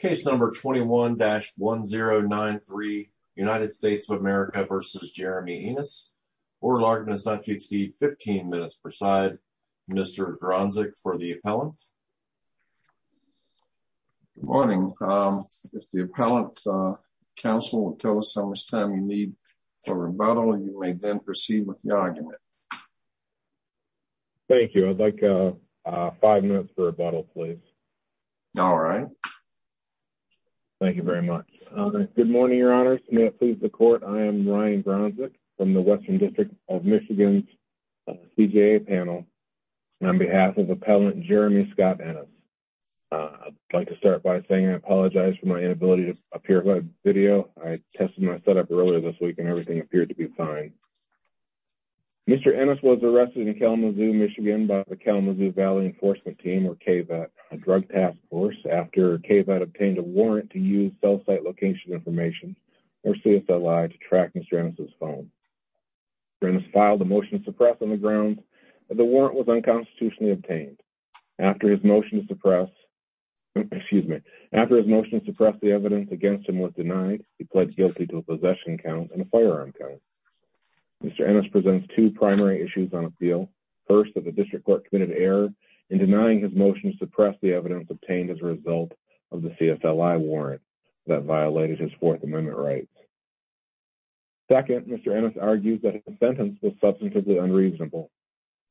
Case number 21-1093 United States of America v. Jeremie Ennis. Order of argument is not to exceed 15 minutes per side. Mr. Gronzig for the appellant. Good morning. If the appellant counsel will tell us how much time you need for rebuttal, you may then proceed with the argument. Thank you. I'd like five minutes for rebuttal, please. All right. Thank you very much. Good morning, your honors. May it please the court, I am Ryan Gronzig from the Western District of Michigan's CJA panel. On behalf of appellant Jeremie Scott Ennis, I'd like to start by saying I apologize for my inability to appear on video. I tested my setup earlier this week and everything appeared to be fine. Mr. Ennis was arrested in Kalamazoo, Michigan by the Kalamazoo Valley Enforcement Team, or KVAT, a drug task force after KVAT obtained a warrant to use cell site location information or CSLI to track Mr. Ennis' phone. Mr. Ennis filed a motion to suppress on the grounds that the warrant was unconstitutionally obtained. After his motion to suppress, excuse me, after his motion to suppress the evidence against him was denied, he pled guilty to a possession count and a firearm count. Mr. Ennis presents two primary issues on appeal. First, that the district court committed error in denying his motion to suppress the evidence obtained as a result of the CSLI warrant that violated his Fourth Amendment rights. Second, Mr. Ennis argued that his sentence was substantively unreasonable.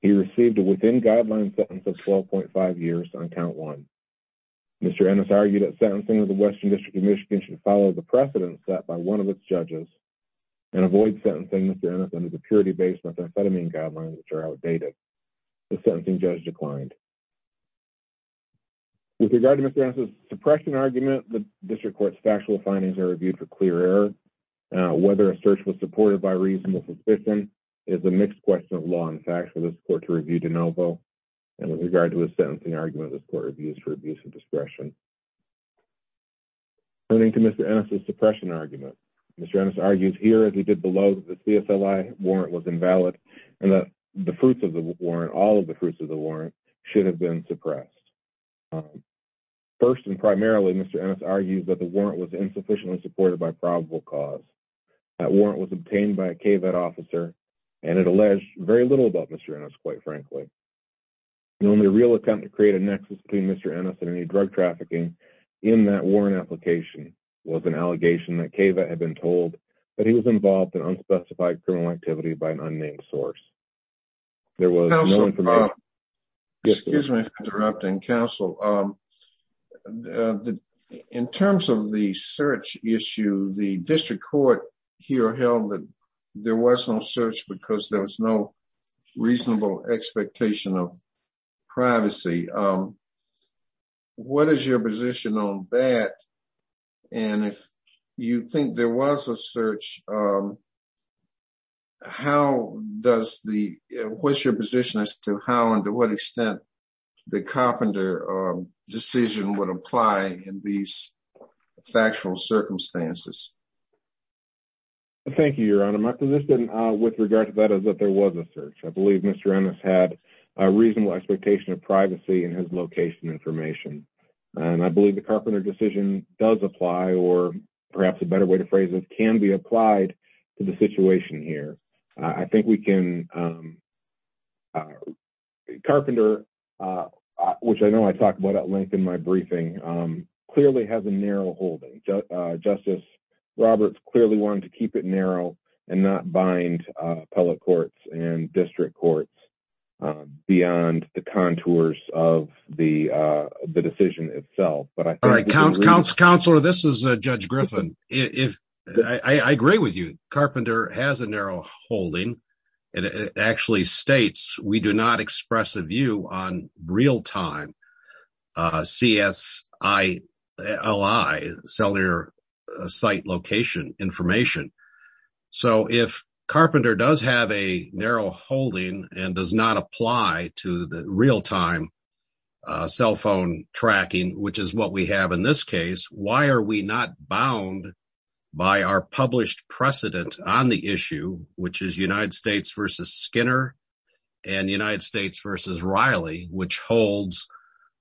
He received a within guideline sentence of 12.5 years on count one. Mr. Ennis argued that sentencing of the Western District of Michigan should follow the precedents set by one of its judges and avoid sentencing Mr. Ennis under the purity-based methamphetamine guidelines, which are outdated. The sentencing judge declined. With regard to Mr. Ennis' suppression argument, the district court's factual findings are reviewed for clear error. Whether a search was supported by reasonable suspicion is a mixed question of law and facts for this court to review de novo. And with regard to his sentencing argument, this court reviews for abuse of discretion. Turning to Mr. Ennis' suppression argument, Mr. Ennis argues here as he did below that the CSLI warrant was invalid and that the fruits of the warrant, all of the fruits of the warrant should have been suppressed. First and primarily, Mr. Ennis argues that the warrant was insufficiently supported by probable cause. That warrant was obtained by a KVET officer and it alleged very little about Mr. Ennis, quite frankly. In only a real attempt to create a nexus between Mr. Ennis and any drug trafficking, in that warrant application was an allegation that KVET had been told that he was involved in unspecified criminal activity by an unnamed source. There was no information- Counsel, excuse me for interrupting. Counsel, in terms of the search issue, the district court here held that there was no search because there was no reasonable expectation of privacy. What is your position on that? And if you think there was a search, what's your position as to how and to what extent the Carpenter decision would apply in these factual circumstances? Thank you, Your Honor. My position with regard to that is that there information. I believe the Carpenter decision does apply, or perhaps a better way to phrase it, can be applied to the situation here. Carpenter, which I know I talked about at length in my briefing, clearly has a narrow holding. Justice Roberts clearly wanted to keep it narrow and not bind appellate courts and district courts beyond the contours of the decision itself. Counselor, this is Judge Griffin. I agree with you. Carpenter has a narrow holding. It actually states, we do not express a view on real-time CSILI, cellular site location information. If Carpenter does have a narrow holding and does not apply to the real-time cell phone tracking, which is what we have in this case, why are we not bound by our published precedent on the issue, which is United States v. Skinner and United States v. Riley, which holds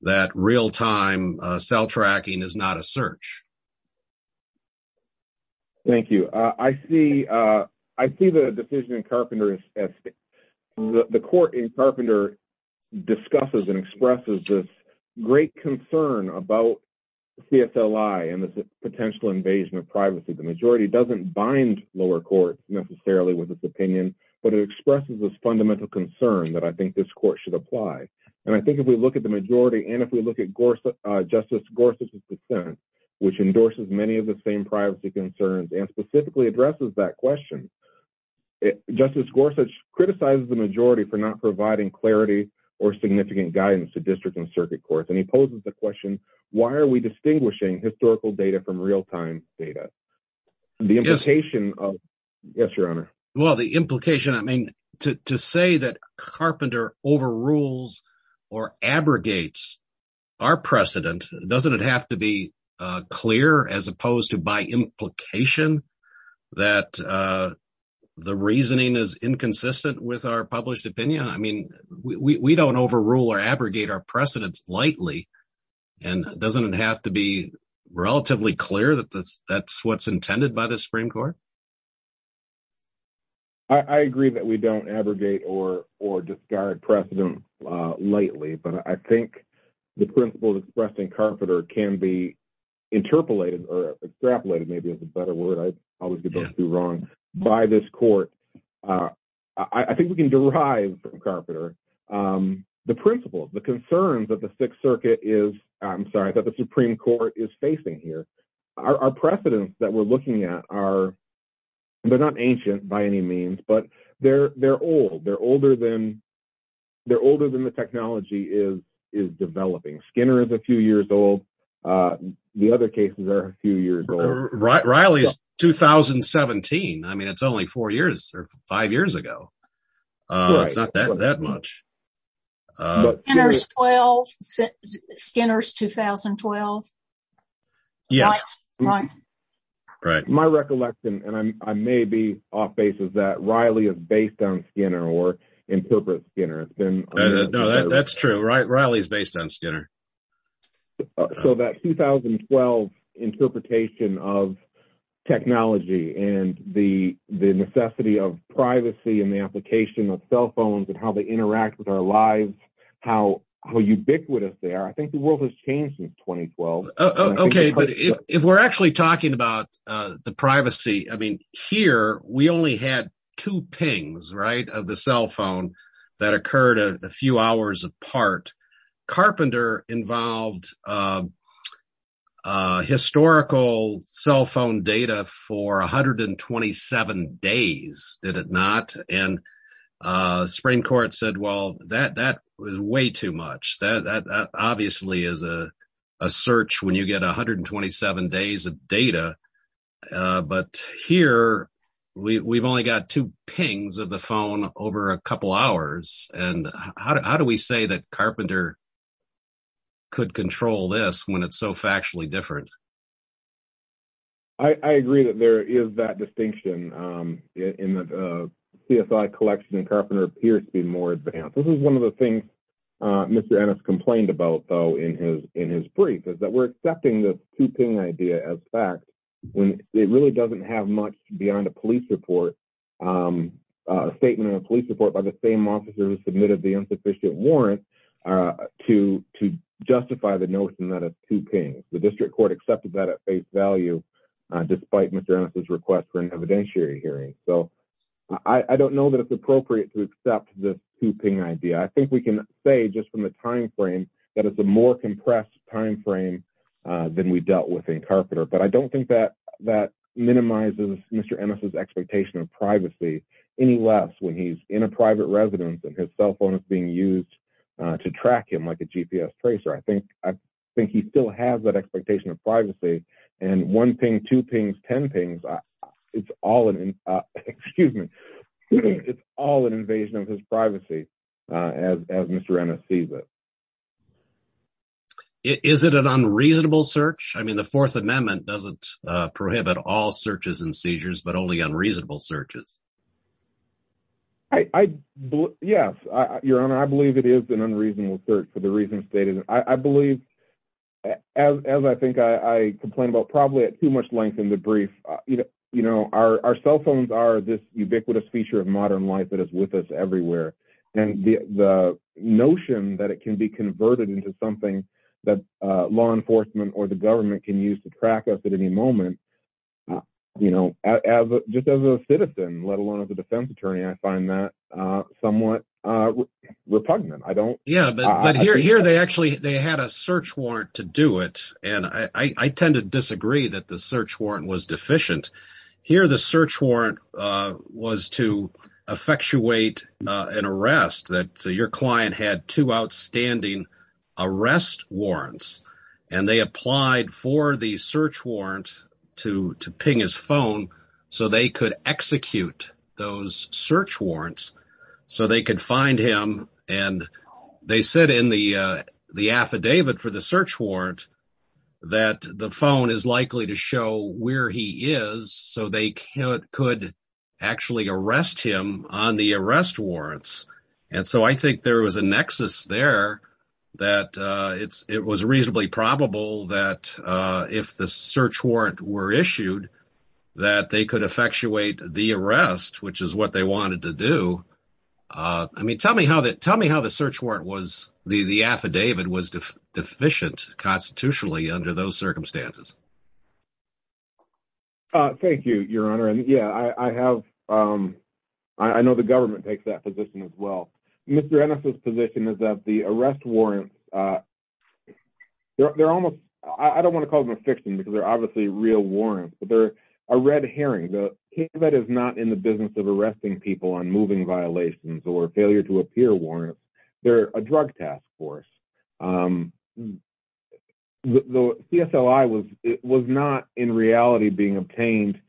that real-time cell tracking is not a search? Thank you. I see the decision in Carpenter. The court in Carpenter discusses and expresses this great concern about CSILI and this potential invasion of privacy. The majority does not bind lower courts necessarily with this opinion, but it expresses this fundamental concern that I think this court should apply. If we look at the majority and if we look at Justice Gorsuch's dissent, which endorses many of the same privacy concerns and specifically addresses that question, Justice Gorsuch criticizes the majority for not providing clarity or significant guidance to district and circuit courts. He poses the question, why are we distinguishing historical data from real-time data? To say that Carpenter overrules or abrogates our precedent, does it not have to be clear as opposed to by implication that the reasoning is inconsistent with our published opinion? We do not overrule or abrogate our precedents lightly. Does it not have to be relatively clear that that is what is intended by the Supreme Court? I agree that we do not abrogate or discard precedent lightly, but I think the principles expressed in Carpenter can be interpolated or extrapolated by this court. I think we can derive from Carpenter the principles, the concerns that the Supreme Court is facing here. Our precedents that we are looking at are not ancient by any means, but they are old. They are older than the technology is developing. Skinner is a few years old. The other cases are a few years old. Riley is 2017. It is only four or five years ago. It is not that much. Skinner is 2012. My recollection, and I may be off-base, is that Riley is based on Skinner or interprets Skinner. That is true. Riley is based on Skinner. That 2012 interpretation of technology and the necessity of privacy and the application of cell phones and how they interact with our lives, how ubiquitous they are, I think the world has changed since 2012. If we are actually talking about the privacy, here we only had two pings of the cell phone that occurred a few hours apart. Carpenter involved historical cell phone data for 127 days, did it not? The Supreme Court said that was way too much. That obviously is a search when you get 127 days of data. Here, we have only got two pings of the phone over a couple hours. How do we say that Carpenter could control this when it is so factually different? I agree that there is that distinction in the CSI collection. Carpenter appears to be more advanced. This is one of the things Mr. Ennis complained about in his brief. We are accepting the two-ping idea as fact. It really does not have much beyond a statement of police support by the same officer who submitted the insufficient warrant to justify the notion that it is two pings. The district court accepted that at face value despite Mr. Ennis' request for an evidentiary hearing. I do not know that it is appropriate to accept the two-ping idea. I think we can say just from the time frame that it is a more compressed time frame than we dealt with in Carpenter. I do not think that minimizes Mr. Ennis' expectation of privacy any less when he is in a private residence and his cell phone is being used to track him like a GPS tracer. I think he still has that expectation of privacy. One ping, two pings, ten pings, it is all an invasion of his privacy as Mr. Ennis sees it. Is it an unreasonable search? The Fourth Amendment does not prohibit all searches and seizures but only unreasonable searches. Yes, Your Honor. I believe it is an unreasonable search for the reasons stated. I believe, as I think I complained about probably at too much length in the brief, our cell phones are this ubiquitous feature of modern life that is with us everywhere. The notion that it can be converted into something that law enforcement or the government can use to track us at any moment, just as a citizen, let alone as a defense attorney, I find that repugnant. Here, they actually had a search warrant to do it. I tend to disagree that the search warrant was deficient. Here, the search warrant was to effectuate an arrest. Your client had two outstanding arrest warrants. They applied for the search warrant to ping his phone so they could execute those search warrants so they could find him. They said in the affidavit for the search warrant that the phone is likely to show where he is so they could actually arrest him on the arrest warrants. I think there was a nexus there that it was reasonably probable that if the search warrant were issued that they could effectuate the arrest, which is what they wanted to do. Tell me how the search warrant, the affidavit, was deficient constitutionally under those circumstances. Thank you, Your Honor. I know the government takes that position as well. Mr. Ennis's position is that the arrest warrants, I don't want to call them a fiction because they're obviously real warrants, but they're a red herring. The KCVAD is not in the business of arresting people on moving violations or failure to appear warrants. They're a drug task force. The CSLI was not in reality being obtained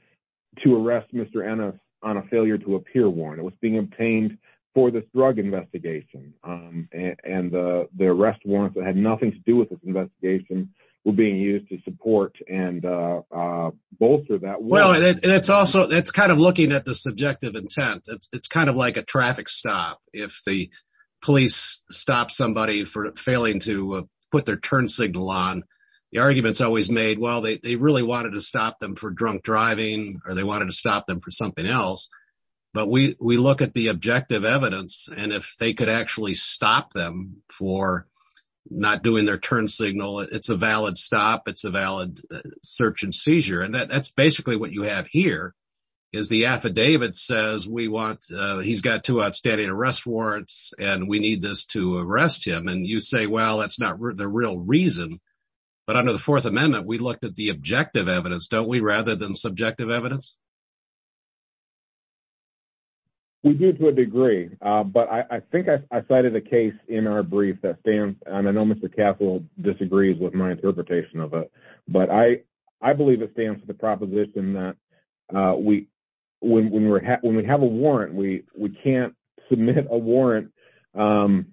to arrest Mr. Ennis on a failure to appear warrant. It was being obtained for this drug investigation. The arrest warrants that had nothing to do with this investigation were being used to support and bolster that warrant. It's kind of looking at the subjective intent. It's kind of like a traffic stop. If the police stop somebody for failing to put their turn signal on, the argument is always made that they really wanted to stop them for drunk driving or they wanted to stop them for something else. We look at the objective evidence. If they could actually stop them for not doing their turn signal, it's a valid stop. It's a valid search and seizure. That's basically what you have here. The affidavit says he's got two outstanding arrest warrants and we need this to arrest him. You say that's not the real reason, but under the Fourth Amendment, we looked at the objective evidence, don't we, rather than subjective evidence? We do to a degree, but I think I cited a case in our brief that stands and I know Mr. Castle disagrees with my interpretation of it, but I believe it stands the proposition that when we have a warrant, we can't submit a warrant to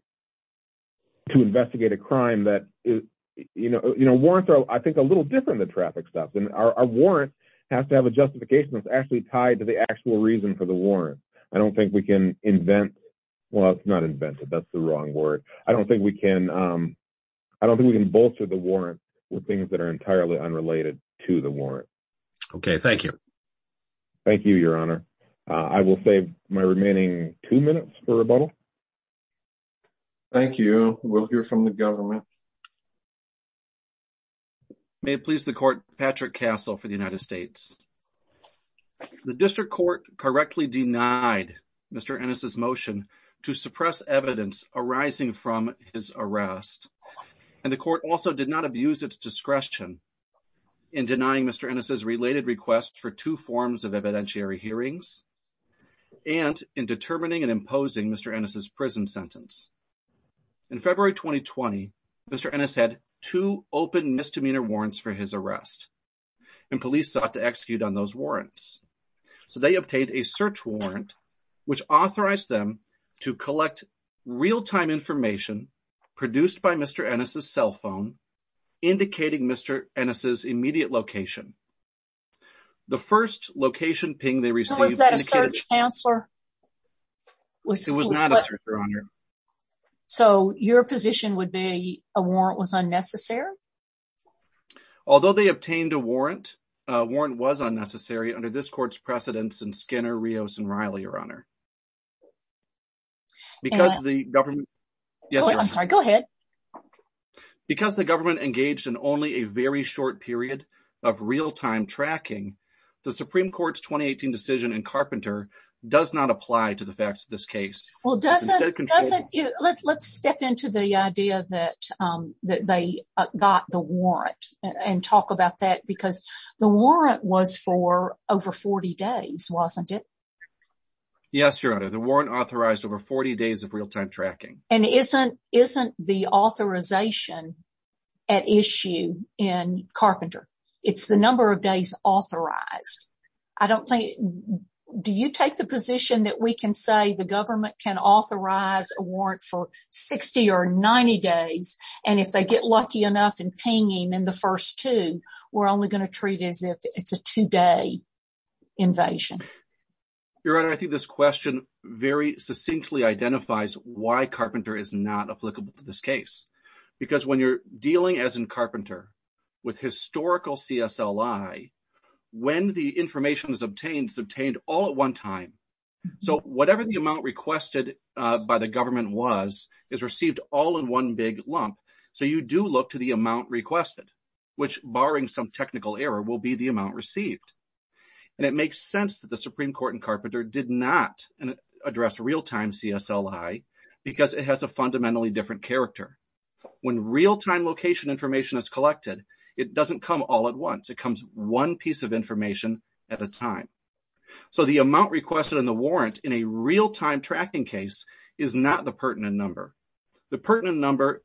investigate a crime. Warrants are, I think, a little different than traffic stops. Our warrant has to have a justification that's actually tied to the actual reason for the warrant. I don't think we can invent... Well, it's not inventive. That's the wrong word. I don't think we can bolster the warrant with things that are entirely unrelated to the warrant. Okay. Thank you. Thank you, Your Honor. I will save my remaining two minutes for rebuttal. Thank you. We'll hear from the government. May it please the court, Patrick Castle for the United States. The district court correctly denied Mr. Ennis' motion to suppress evidence arising from his arrest and the court also did not abuse its discretion in denying Mr. Ennis' related requests for two forms of evidentiary hearings and in determining and imposing Mr. Ennis' prison sentence. In February 2020, Mr. Ennis had two open misdemeanor warrants for his arrest and police sought to execute on those warrants. So, they obtained a search warrant, which authorized them to collect real-time information produced by Mr. Ennis' cell phone indicating Mr. Ennis' immediate location. The first location ping they received... Was that a search counselor? It was not a search, Your Honor. So, your position would be a warrant was unnecessary? Although they obtained a warrant, a warrant was unnecessary under this court's precedence in Skinner, Rios, and Riley, Your Honor. Because the government engaged in only a very short period of real-time tracking, the Supreme Court's 2018 decision in Carpenter does not apply to the facts of this case. Let's step into the idea that they got the warrant and talk about that because the warrant authorized over 40 days of real-time tracking. And isn't the authorization at issue in Carpenter? It's the number of days authorized. Do you take the position that we can say the government can authorize a warrant for 60 or 90 days and if they get lucky enough in pinging in the first two, we're only going to treat it as if it's a two-day invasion? Your Honor, I think this question very succinctly identifies why Carpenter is not applicable to this case. Because when you're dealing, as in Carpenter, with historical CSLI, when the information is obtained, it's obtained all at one time. So, whatever the amount requested by the government was is received all in one big lump. So, you do look to the amount requested, which barring some technical error will be the amount received. And it makes sense that the Supreme Court in Carpenter did not address real-time CSLI because it has a fundamentally different character. When real-time location information is collected, it doesn't come all at once. It comes one piece of information at a time. So, the amount requested in the warrant in a real-time tracking case is not the pertinent number. The pertinent number,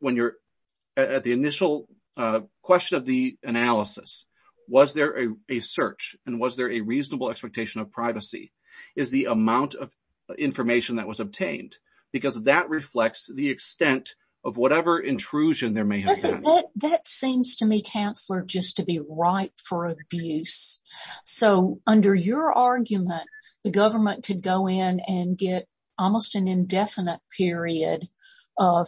at the initial question of the analysis, was there a search and was there a reasonable expectation of privacy, is the amount of information that was obtained. Because that reflects the extent of whatever intrusion there may have been. That seems to me, Counselor, just to be ripe for abuse. So, under your argument, the government could go in and get almost an indefinite period of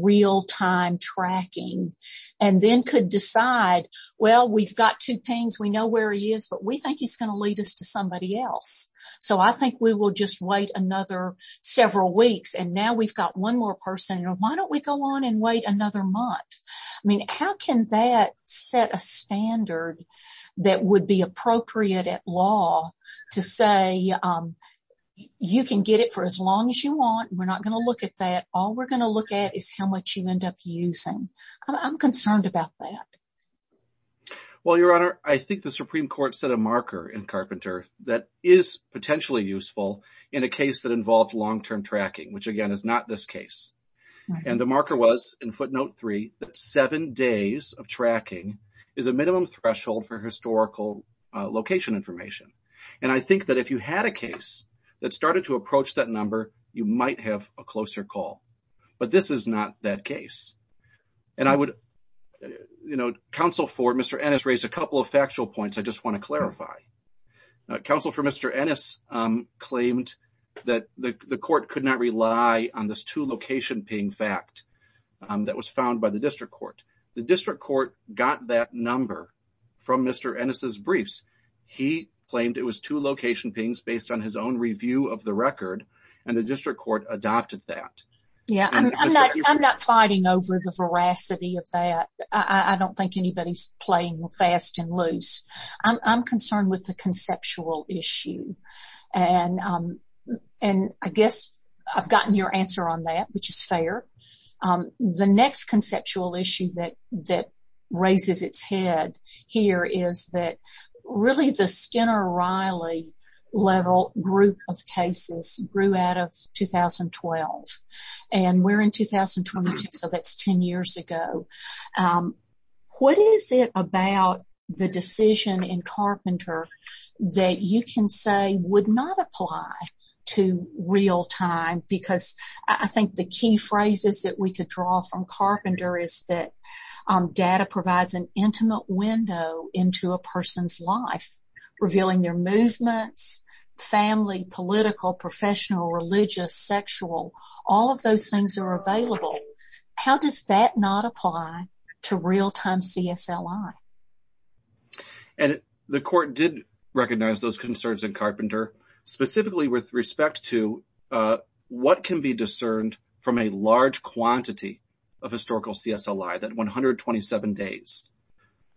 real-time tracking and then could decide, well, we've got two pings, we know where he is, but we think he's going to lead us to somebody else. So, I think we will just wait another several weeks and now we've got one more person. Why don't we go on and wait another month? I mean, how can that set a standard that would be appropriate at law to say, you can get it for as long as you want, we're not going to look at that, all we're going to look at is how much you end up using. I'm concerned about that. Well, Your Honor, I think the Supreme Court set a marker in Carpenter that is potentially useful in a case that involved long-term tracking, which again is not this case. And the marker was, in footnote three, that seven days of tracking is a minimum threshold for historical location information. And I think that if you had a case that started to approach that number, you might have a closer call. But this is not that case. And I would, you know, counsel for Mr. Ennis raised a couple of factual points I just want to clarify. Counsel for Mr. Ennis claimed that the court could not rely on this two-location fact that was found by the district court. The district court got that number from Mr. Ennis' briefs. He claimed it was two-location pings based on his own review of the record, and the district court adopted that. Yeah, I'm not fighting over the veracity of that. I don't think anybody's playing fast and loose. I'm concerned with the conceptual issue. And I guess I've gotten your answer on that, which is fair. The next conceptual issue that raises its head here is that really the Skinner-Riley level group of cases grew out of 2012. And we're in 2022, so that's 10 years ago. What is it about the decision in Carpenter that you can say would not apply to real time? Because I think the key phrases that we could draw from Carpenter is that data provides an intimate window into a person's life, revealing their movements, family, political, professional, religious, sexual. All of those things are available. How does that not apply to real time CSLI? And the court did recognize those concerns in Carpenter, specifically with respect to what can be discerned from a large quantity of historical CSLI, that 127 days.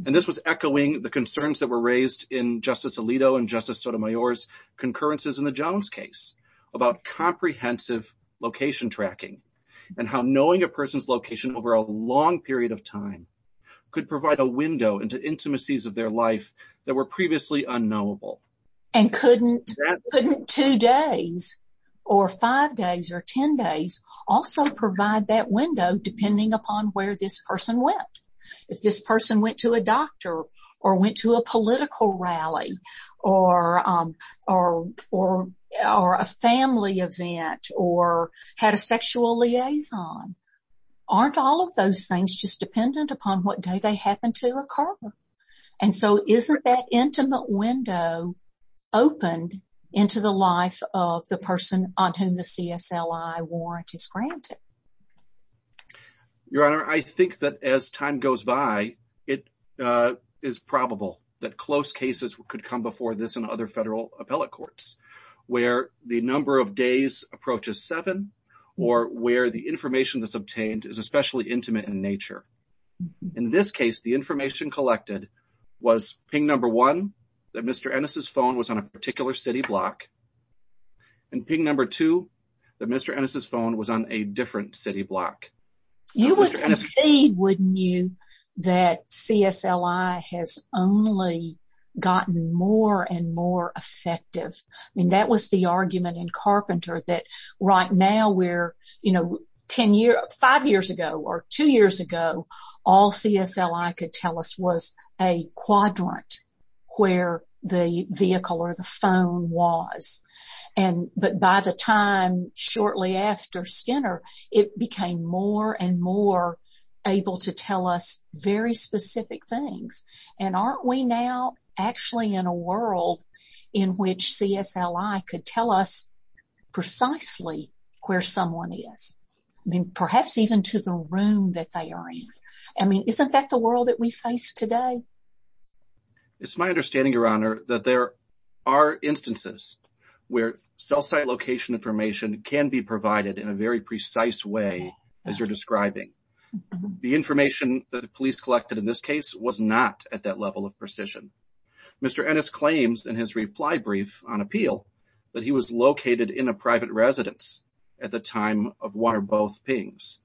And this was echoing the concerns that were raised in Justice Alito and Justice Sotomayor's concurrences in the Jones case about comprehensive location tracking and how knowing a person's location over a long period of time could provide a window into intimacies of their life that were five days or 10 days also provide that window depending upon where this person went. If this person went to a doctor or went to a political rally or a family event or had a sexual liaison, aren't all of those things just dependent upon what day they happened to occur? And so isn't that intimate window opened into the life of the person on whom the CSLI warrant is granted? Your Honor, I think that as time goes by, it is probable that close cases could come before this and other federal appellate courts where the number of days approaches seven or where the information that's obtained is especially intimate in nature. In this case, the information collected was ping number one, that Mr. Ennis's phone was on a particular city block, and ping number two, that Mr. Ennis's phone was on a different city block. You would see, wouldn't you, that CSLI has only gotten more and more effective. I mean, that was the argument in Carpenter that right now we're, you know, five years ago or two years ago, all CSLI could tell us was a quadrant where the vehicle or the phone was. But by the time shortly after Skinner, it became more and more able to tell us very specific things. And aren't we now actually in a world in which CSLI could tell us precisely where someone is? I mean, perhaps even to the room that they are in. I mean, isn't that the world that we face today? It's my understanding, Your Honor, that there are instances where cell site location information can be provided in a very precise way, as you're describing. The information that the police collected in this case was not at that level of precision. Mr. Ennis claims in his reply brief on appeal that he was located in a private residence at the time of one or both pings.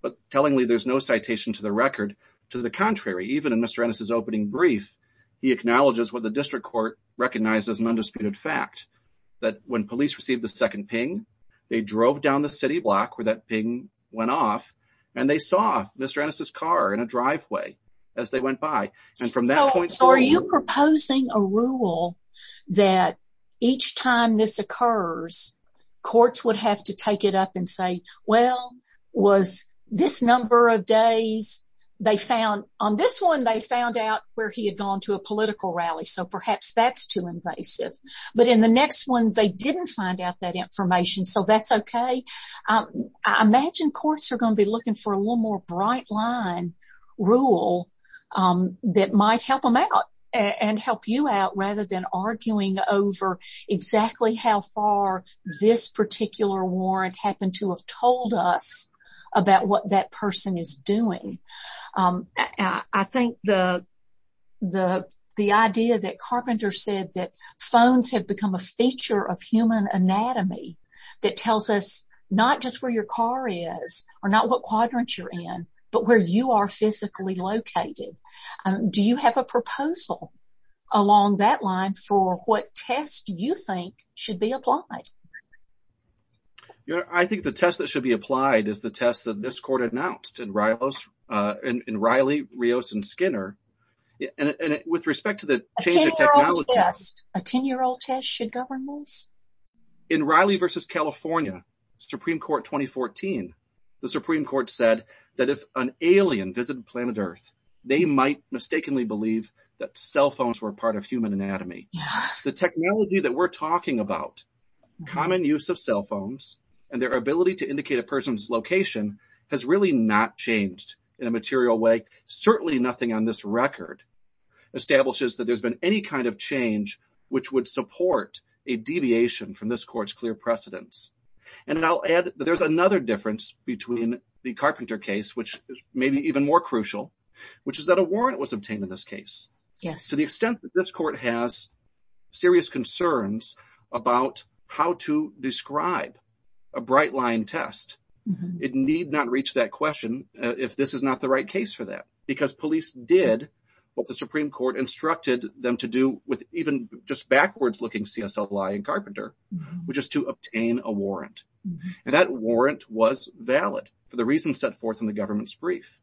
But tellingly, there's no citation to the record. To the contrary, even in Mr. Ennis's opening brief, he acknowledges what the district court recognized as an undisputed fact, that when police received the second ping, they drove down the city block where that ping went off, and they saw Mr. Ennis's car in a driveway as they went by. So are you proposing a rule that each time this occurs, courts would have to take it up and say, well, was this number of days, they found on this one, they found out where he had gone to a political rally. So perhaps that's too invasive. But in the next one, they didn't find out that information. So that's okay. I imagine courts are going to be looking for a bright line rule that might help them out and help you out rather than arguing over exactly how far this particular warrant happened to have told us about what that person is doing. I think the idea that Carpenter said that phones have become a feature of human anatomy that tells us not just where your car is or not what quadrant you're in, but where you are physically located. Do you have a proposal along that line for what test you think should be applied? I think the test that should be applied is the test that this court announced in Riley, Rios, and Skinner. And with respect to the change of technology- A 10-year-old test should govern In Riley versus California, Supreme Court 2014, the Supreme Court said that if an alien visited planet Earth, they might mistakenly believe that cell phones were part of human anatomy. The technology that we're talking about, common use of cell phones, and their ability to indicate a person's location has really not changed in a material way. Certainly nothing on this record establishes that there's been any kind of change which would support a deviation from this court's clear precedence. And I'll add that there's another difference between the Carpenter case, which may be even more crucial, which is that a warrant was obtained in this case. Yes. To the extent that this court has serious concerns about how to describe a bright line test, it need not reach that question if this is not the right case for that. Because police did what the Supreme Court instructed them to do with even just backwards looking CSL fly in Carpenter, which is to obtain a warrant. And that warrant was valid for the reason set forth in the government's brief.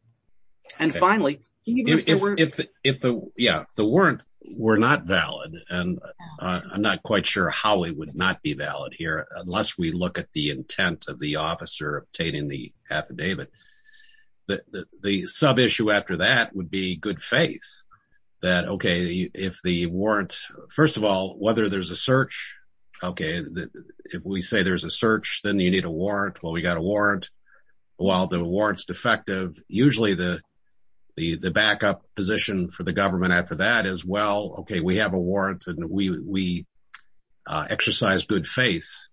And finally- Yeah. If the warrant were not valid, and I'm not quite sure how it would not be valid here, unless we look at the intent of the officer obtaining the affidavit, the sub-issue after that would be good faith. That, okay, if the warrant, first of all, whether there's a search, okay, if we say there's a search, then you need a warrant, well, we got a warrant. While the warrant's defective, usually the backup position for the government after that is, well, okay, we have a warrant and we exercise good faith.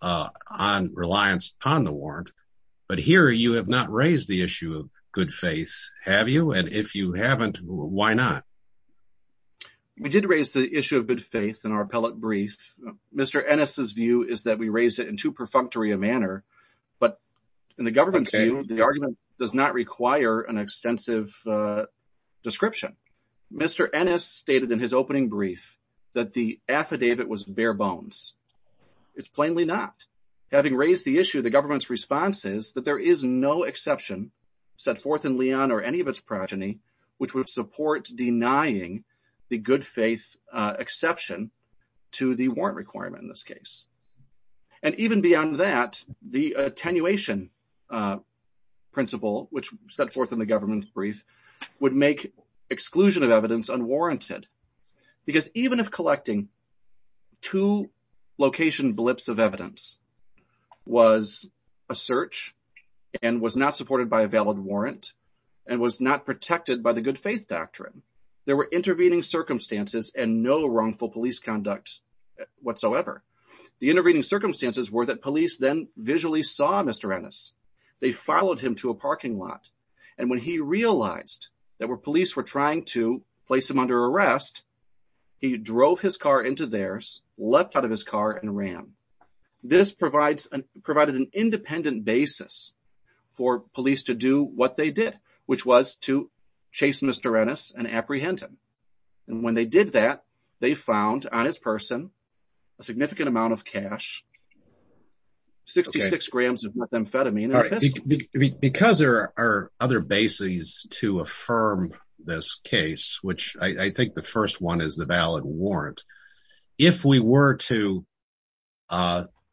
On reliance on the warrant, but here you have not raised the issue of good faith, have you? And if you haven't, why not? We did raise the issue of good faith in our appellate brief. Mr. Ennis's view is that we raised it in too perfunctory a manner, but in the government's view, the argument does not require an extensive description. Mr. Ennis stated in his opening brief that the affidavit was bare bones. It's plainly not. Having raised the issue, the government's response is that there is no exception set forth in Leon or any of its progeny, which would support denying the good faith exception to the warrant requirement in this case. And even beyond that, the attenuation principle, which set forth in the government's brief, would make exclusion of evidence unwarranted. Because even if collecting two location blips of evidence was a search and was not supported by a valid warrant and was not protected by the good faith doctrine, there were intervening circumstances and no wrongful police conduct whatsoever. The intervening circumstances were that police then visually saw Mr. Ennis. They followed him to a parking lot. And when he realized that police were trying to place him under arrest, he drove his car into theirs, leapt out of his car and ran. This provided an independent basis for police to do what they did, which was to chase Mr. Ennis and apprehend him. And when they did that, they found on his person a significant amount of cash, 66 grams of methamphetamine. Because there are other bases to affirm this case, which I think the first one is the valid warrant. If we were to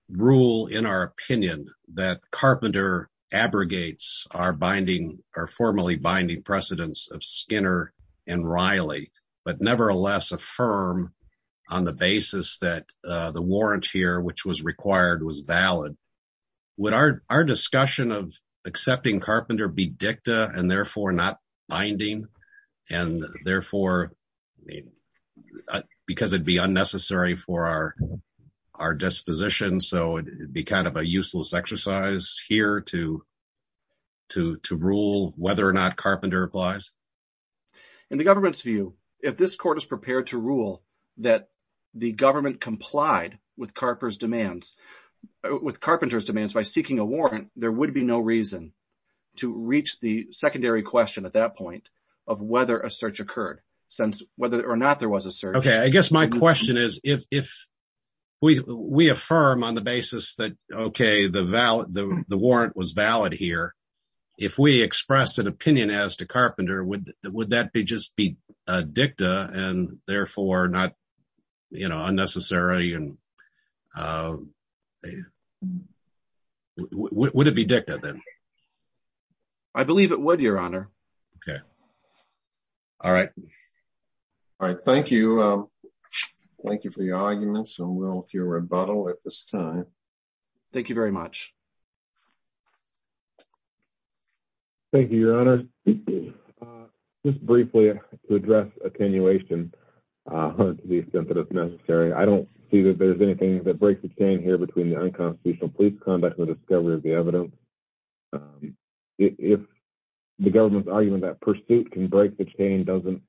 rule in our opinion that Carpenter abrogates our binding, our formally binding precedence of Skinner and Riley, but nevertheless affirm on the basis that the warrant here, which was required, was valid, would our discussion of accepting Carpenter be dicta and therefore not binding? And therefore, because it'd be unnecessary for our disposition, so it'd be kind of a useless exercise here to rule whether or not Carpenter applies? In the government's view, if this court is that the government complied with Carpenter's demands by seeking a warrant, there would be no reason to reach the secondary question at that point of whether a search occurred, since whether or not there was a search. Okay. I guess my question is, if we affirm on the basis that, okay, the warrant was valid here, if we expressed an opinion as to Carpenter, would that just be dicta and therefore not unnecessary? Would it be dicta then? I believe it would, Your Honor. Okay. All right. All right. Thank you. Thank you for your arguments, and we'll hear rebuttal at this time. Thank you very much. Thank you, Your Honor. Just briefly, to address attenuation, to the extent that it's necessary, I don't see that there's anything that breaks the chain here between the unconstitutional police conduct and the discovery of the evidence. If the government's argument that pursuit can break the chain doesn't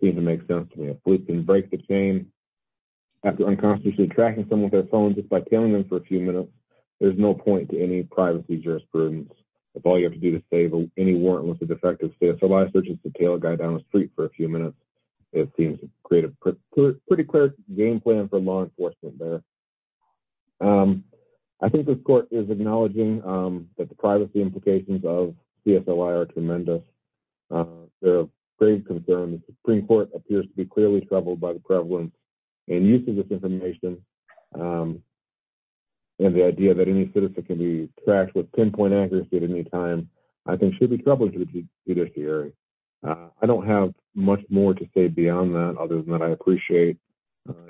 seem to make sense to me. If police can break the chain after unconstitutionally tracking someone with their phone just by tailing them for a few minutes, there's no point in any privacy jurisprudence. If all you have to do to save any warrantless or defective CSLI search is to tail a guy down the street for a few minutes, it seems to create a pretty clear game plan for law enforcement there. I think this court is acknowledging that the privacy implications of CSLI are tremendous. There are grave concerns. The Supreme Court appears to be clearly troubled by the prevalence and use of this information and the idea that any citizen can be tracked with pinpoint accuracy at any time, I think should be troubled to the judiciary. I don't have much more to say beyond that, other than that I appreciate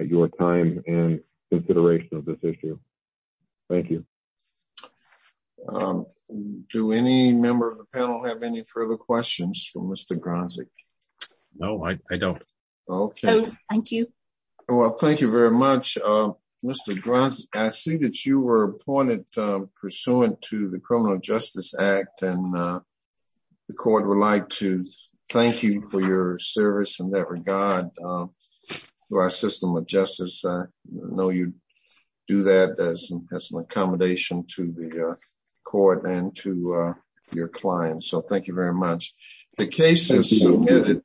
your time and consideration of this issue. Thank you. Do any member of the panel have any further questions for Mr. Gronzig? No, I don't. Okay. Thank you. Well, thank you very much, Mr. Gronzig. I see that you were appointed pursuant to the Criminal Justice Act and the court would like to thank you for your service in that regard through our system of justice. I know you do that as an accommodation to the court and to your clients, so thank you very much. The case is submitted.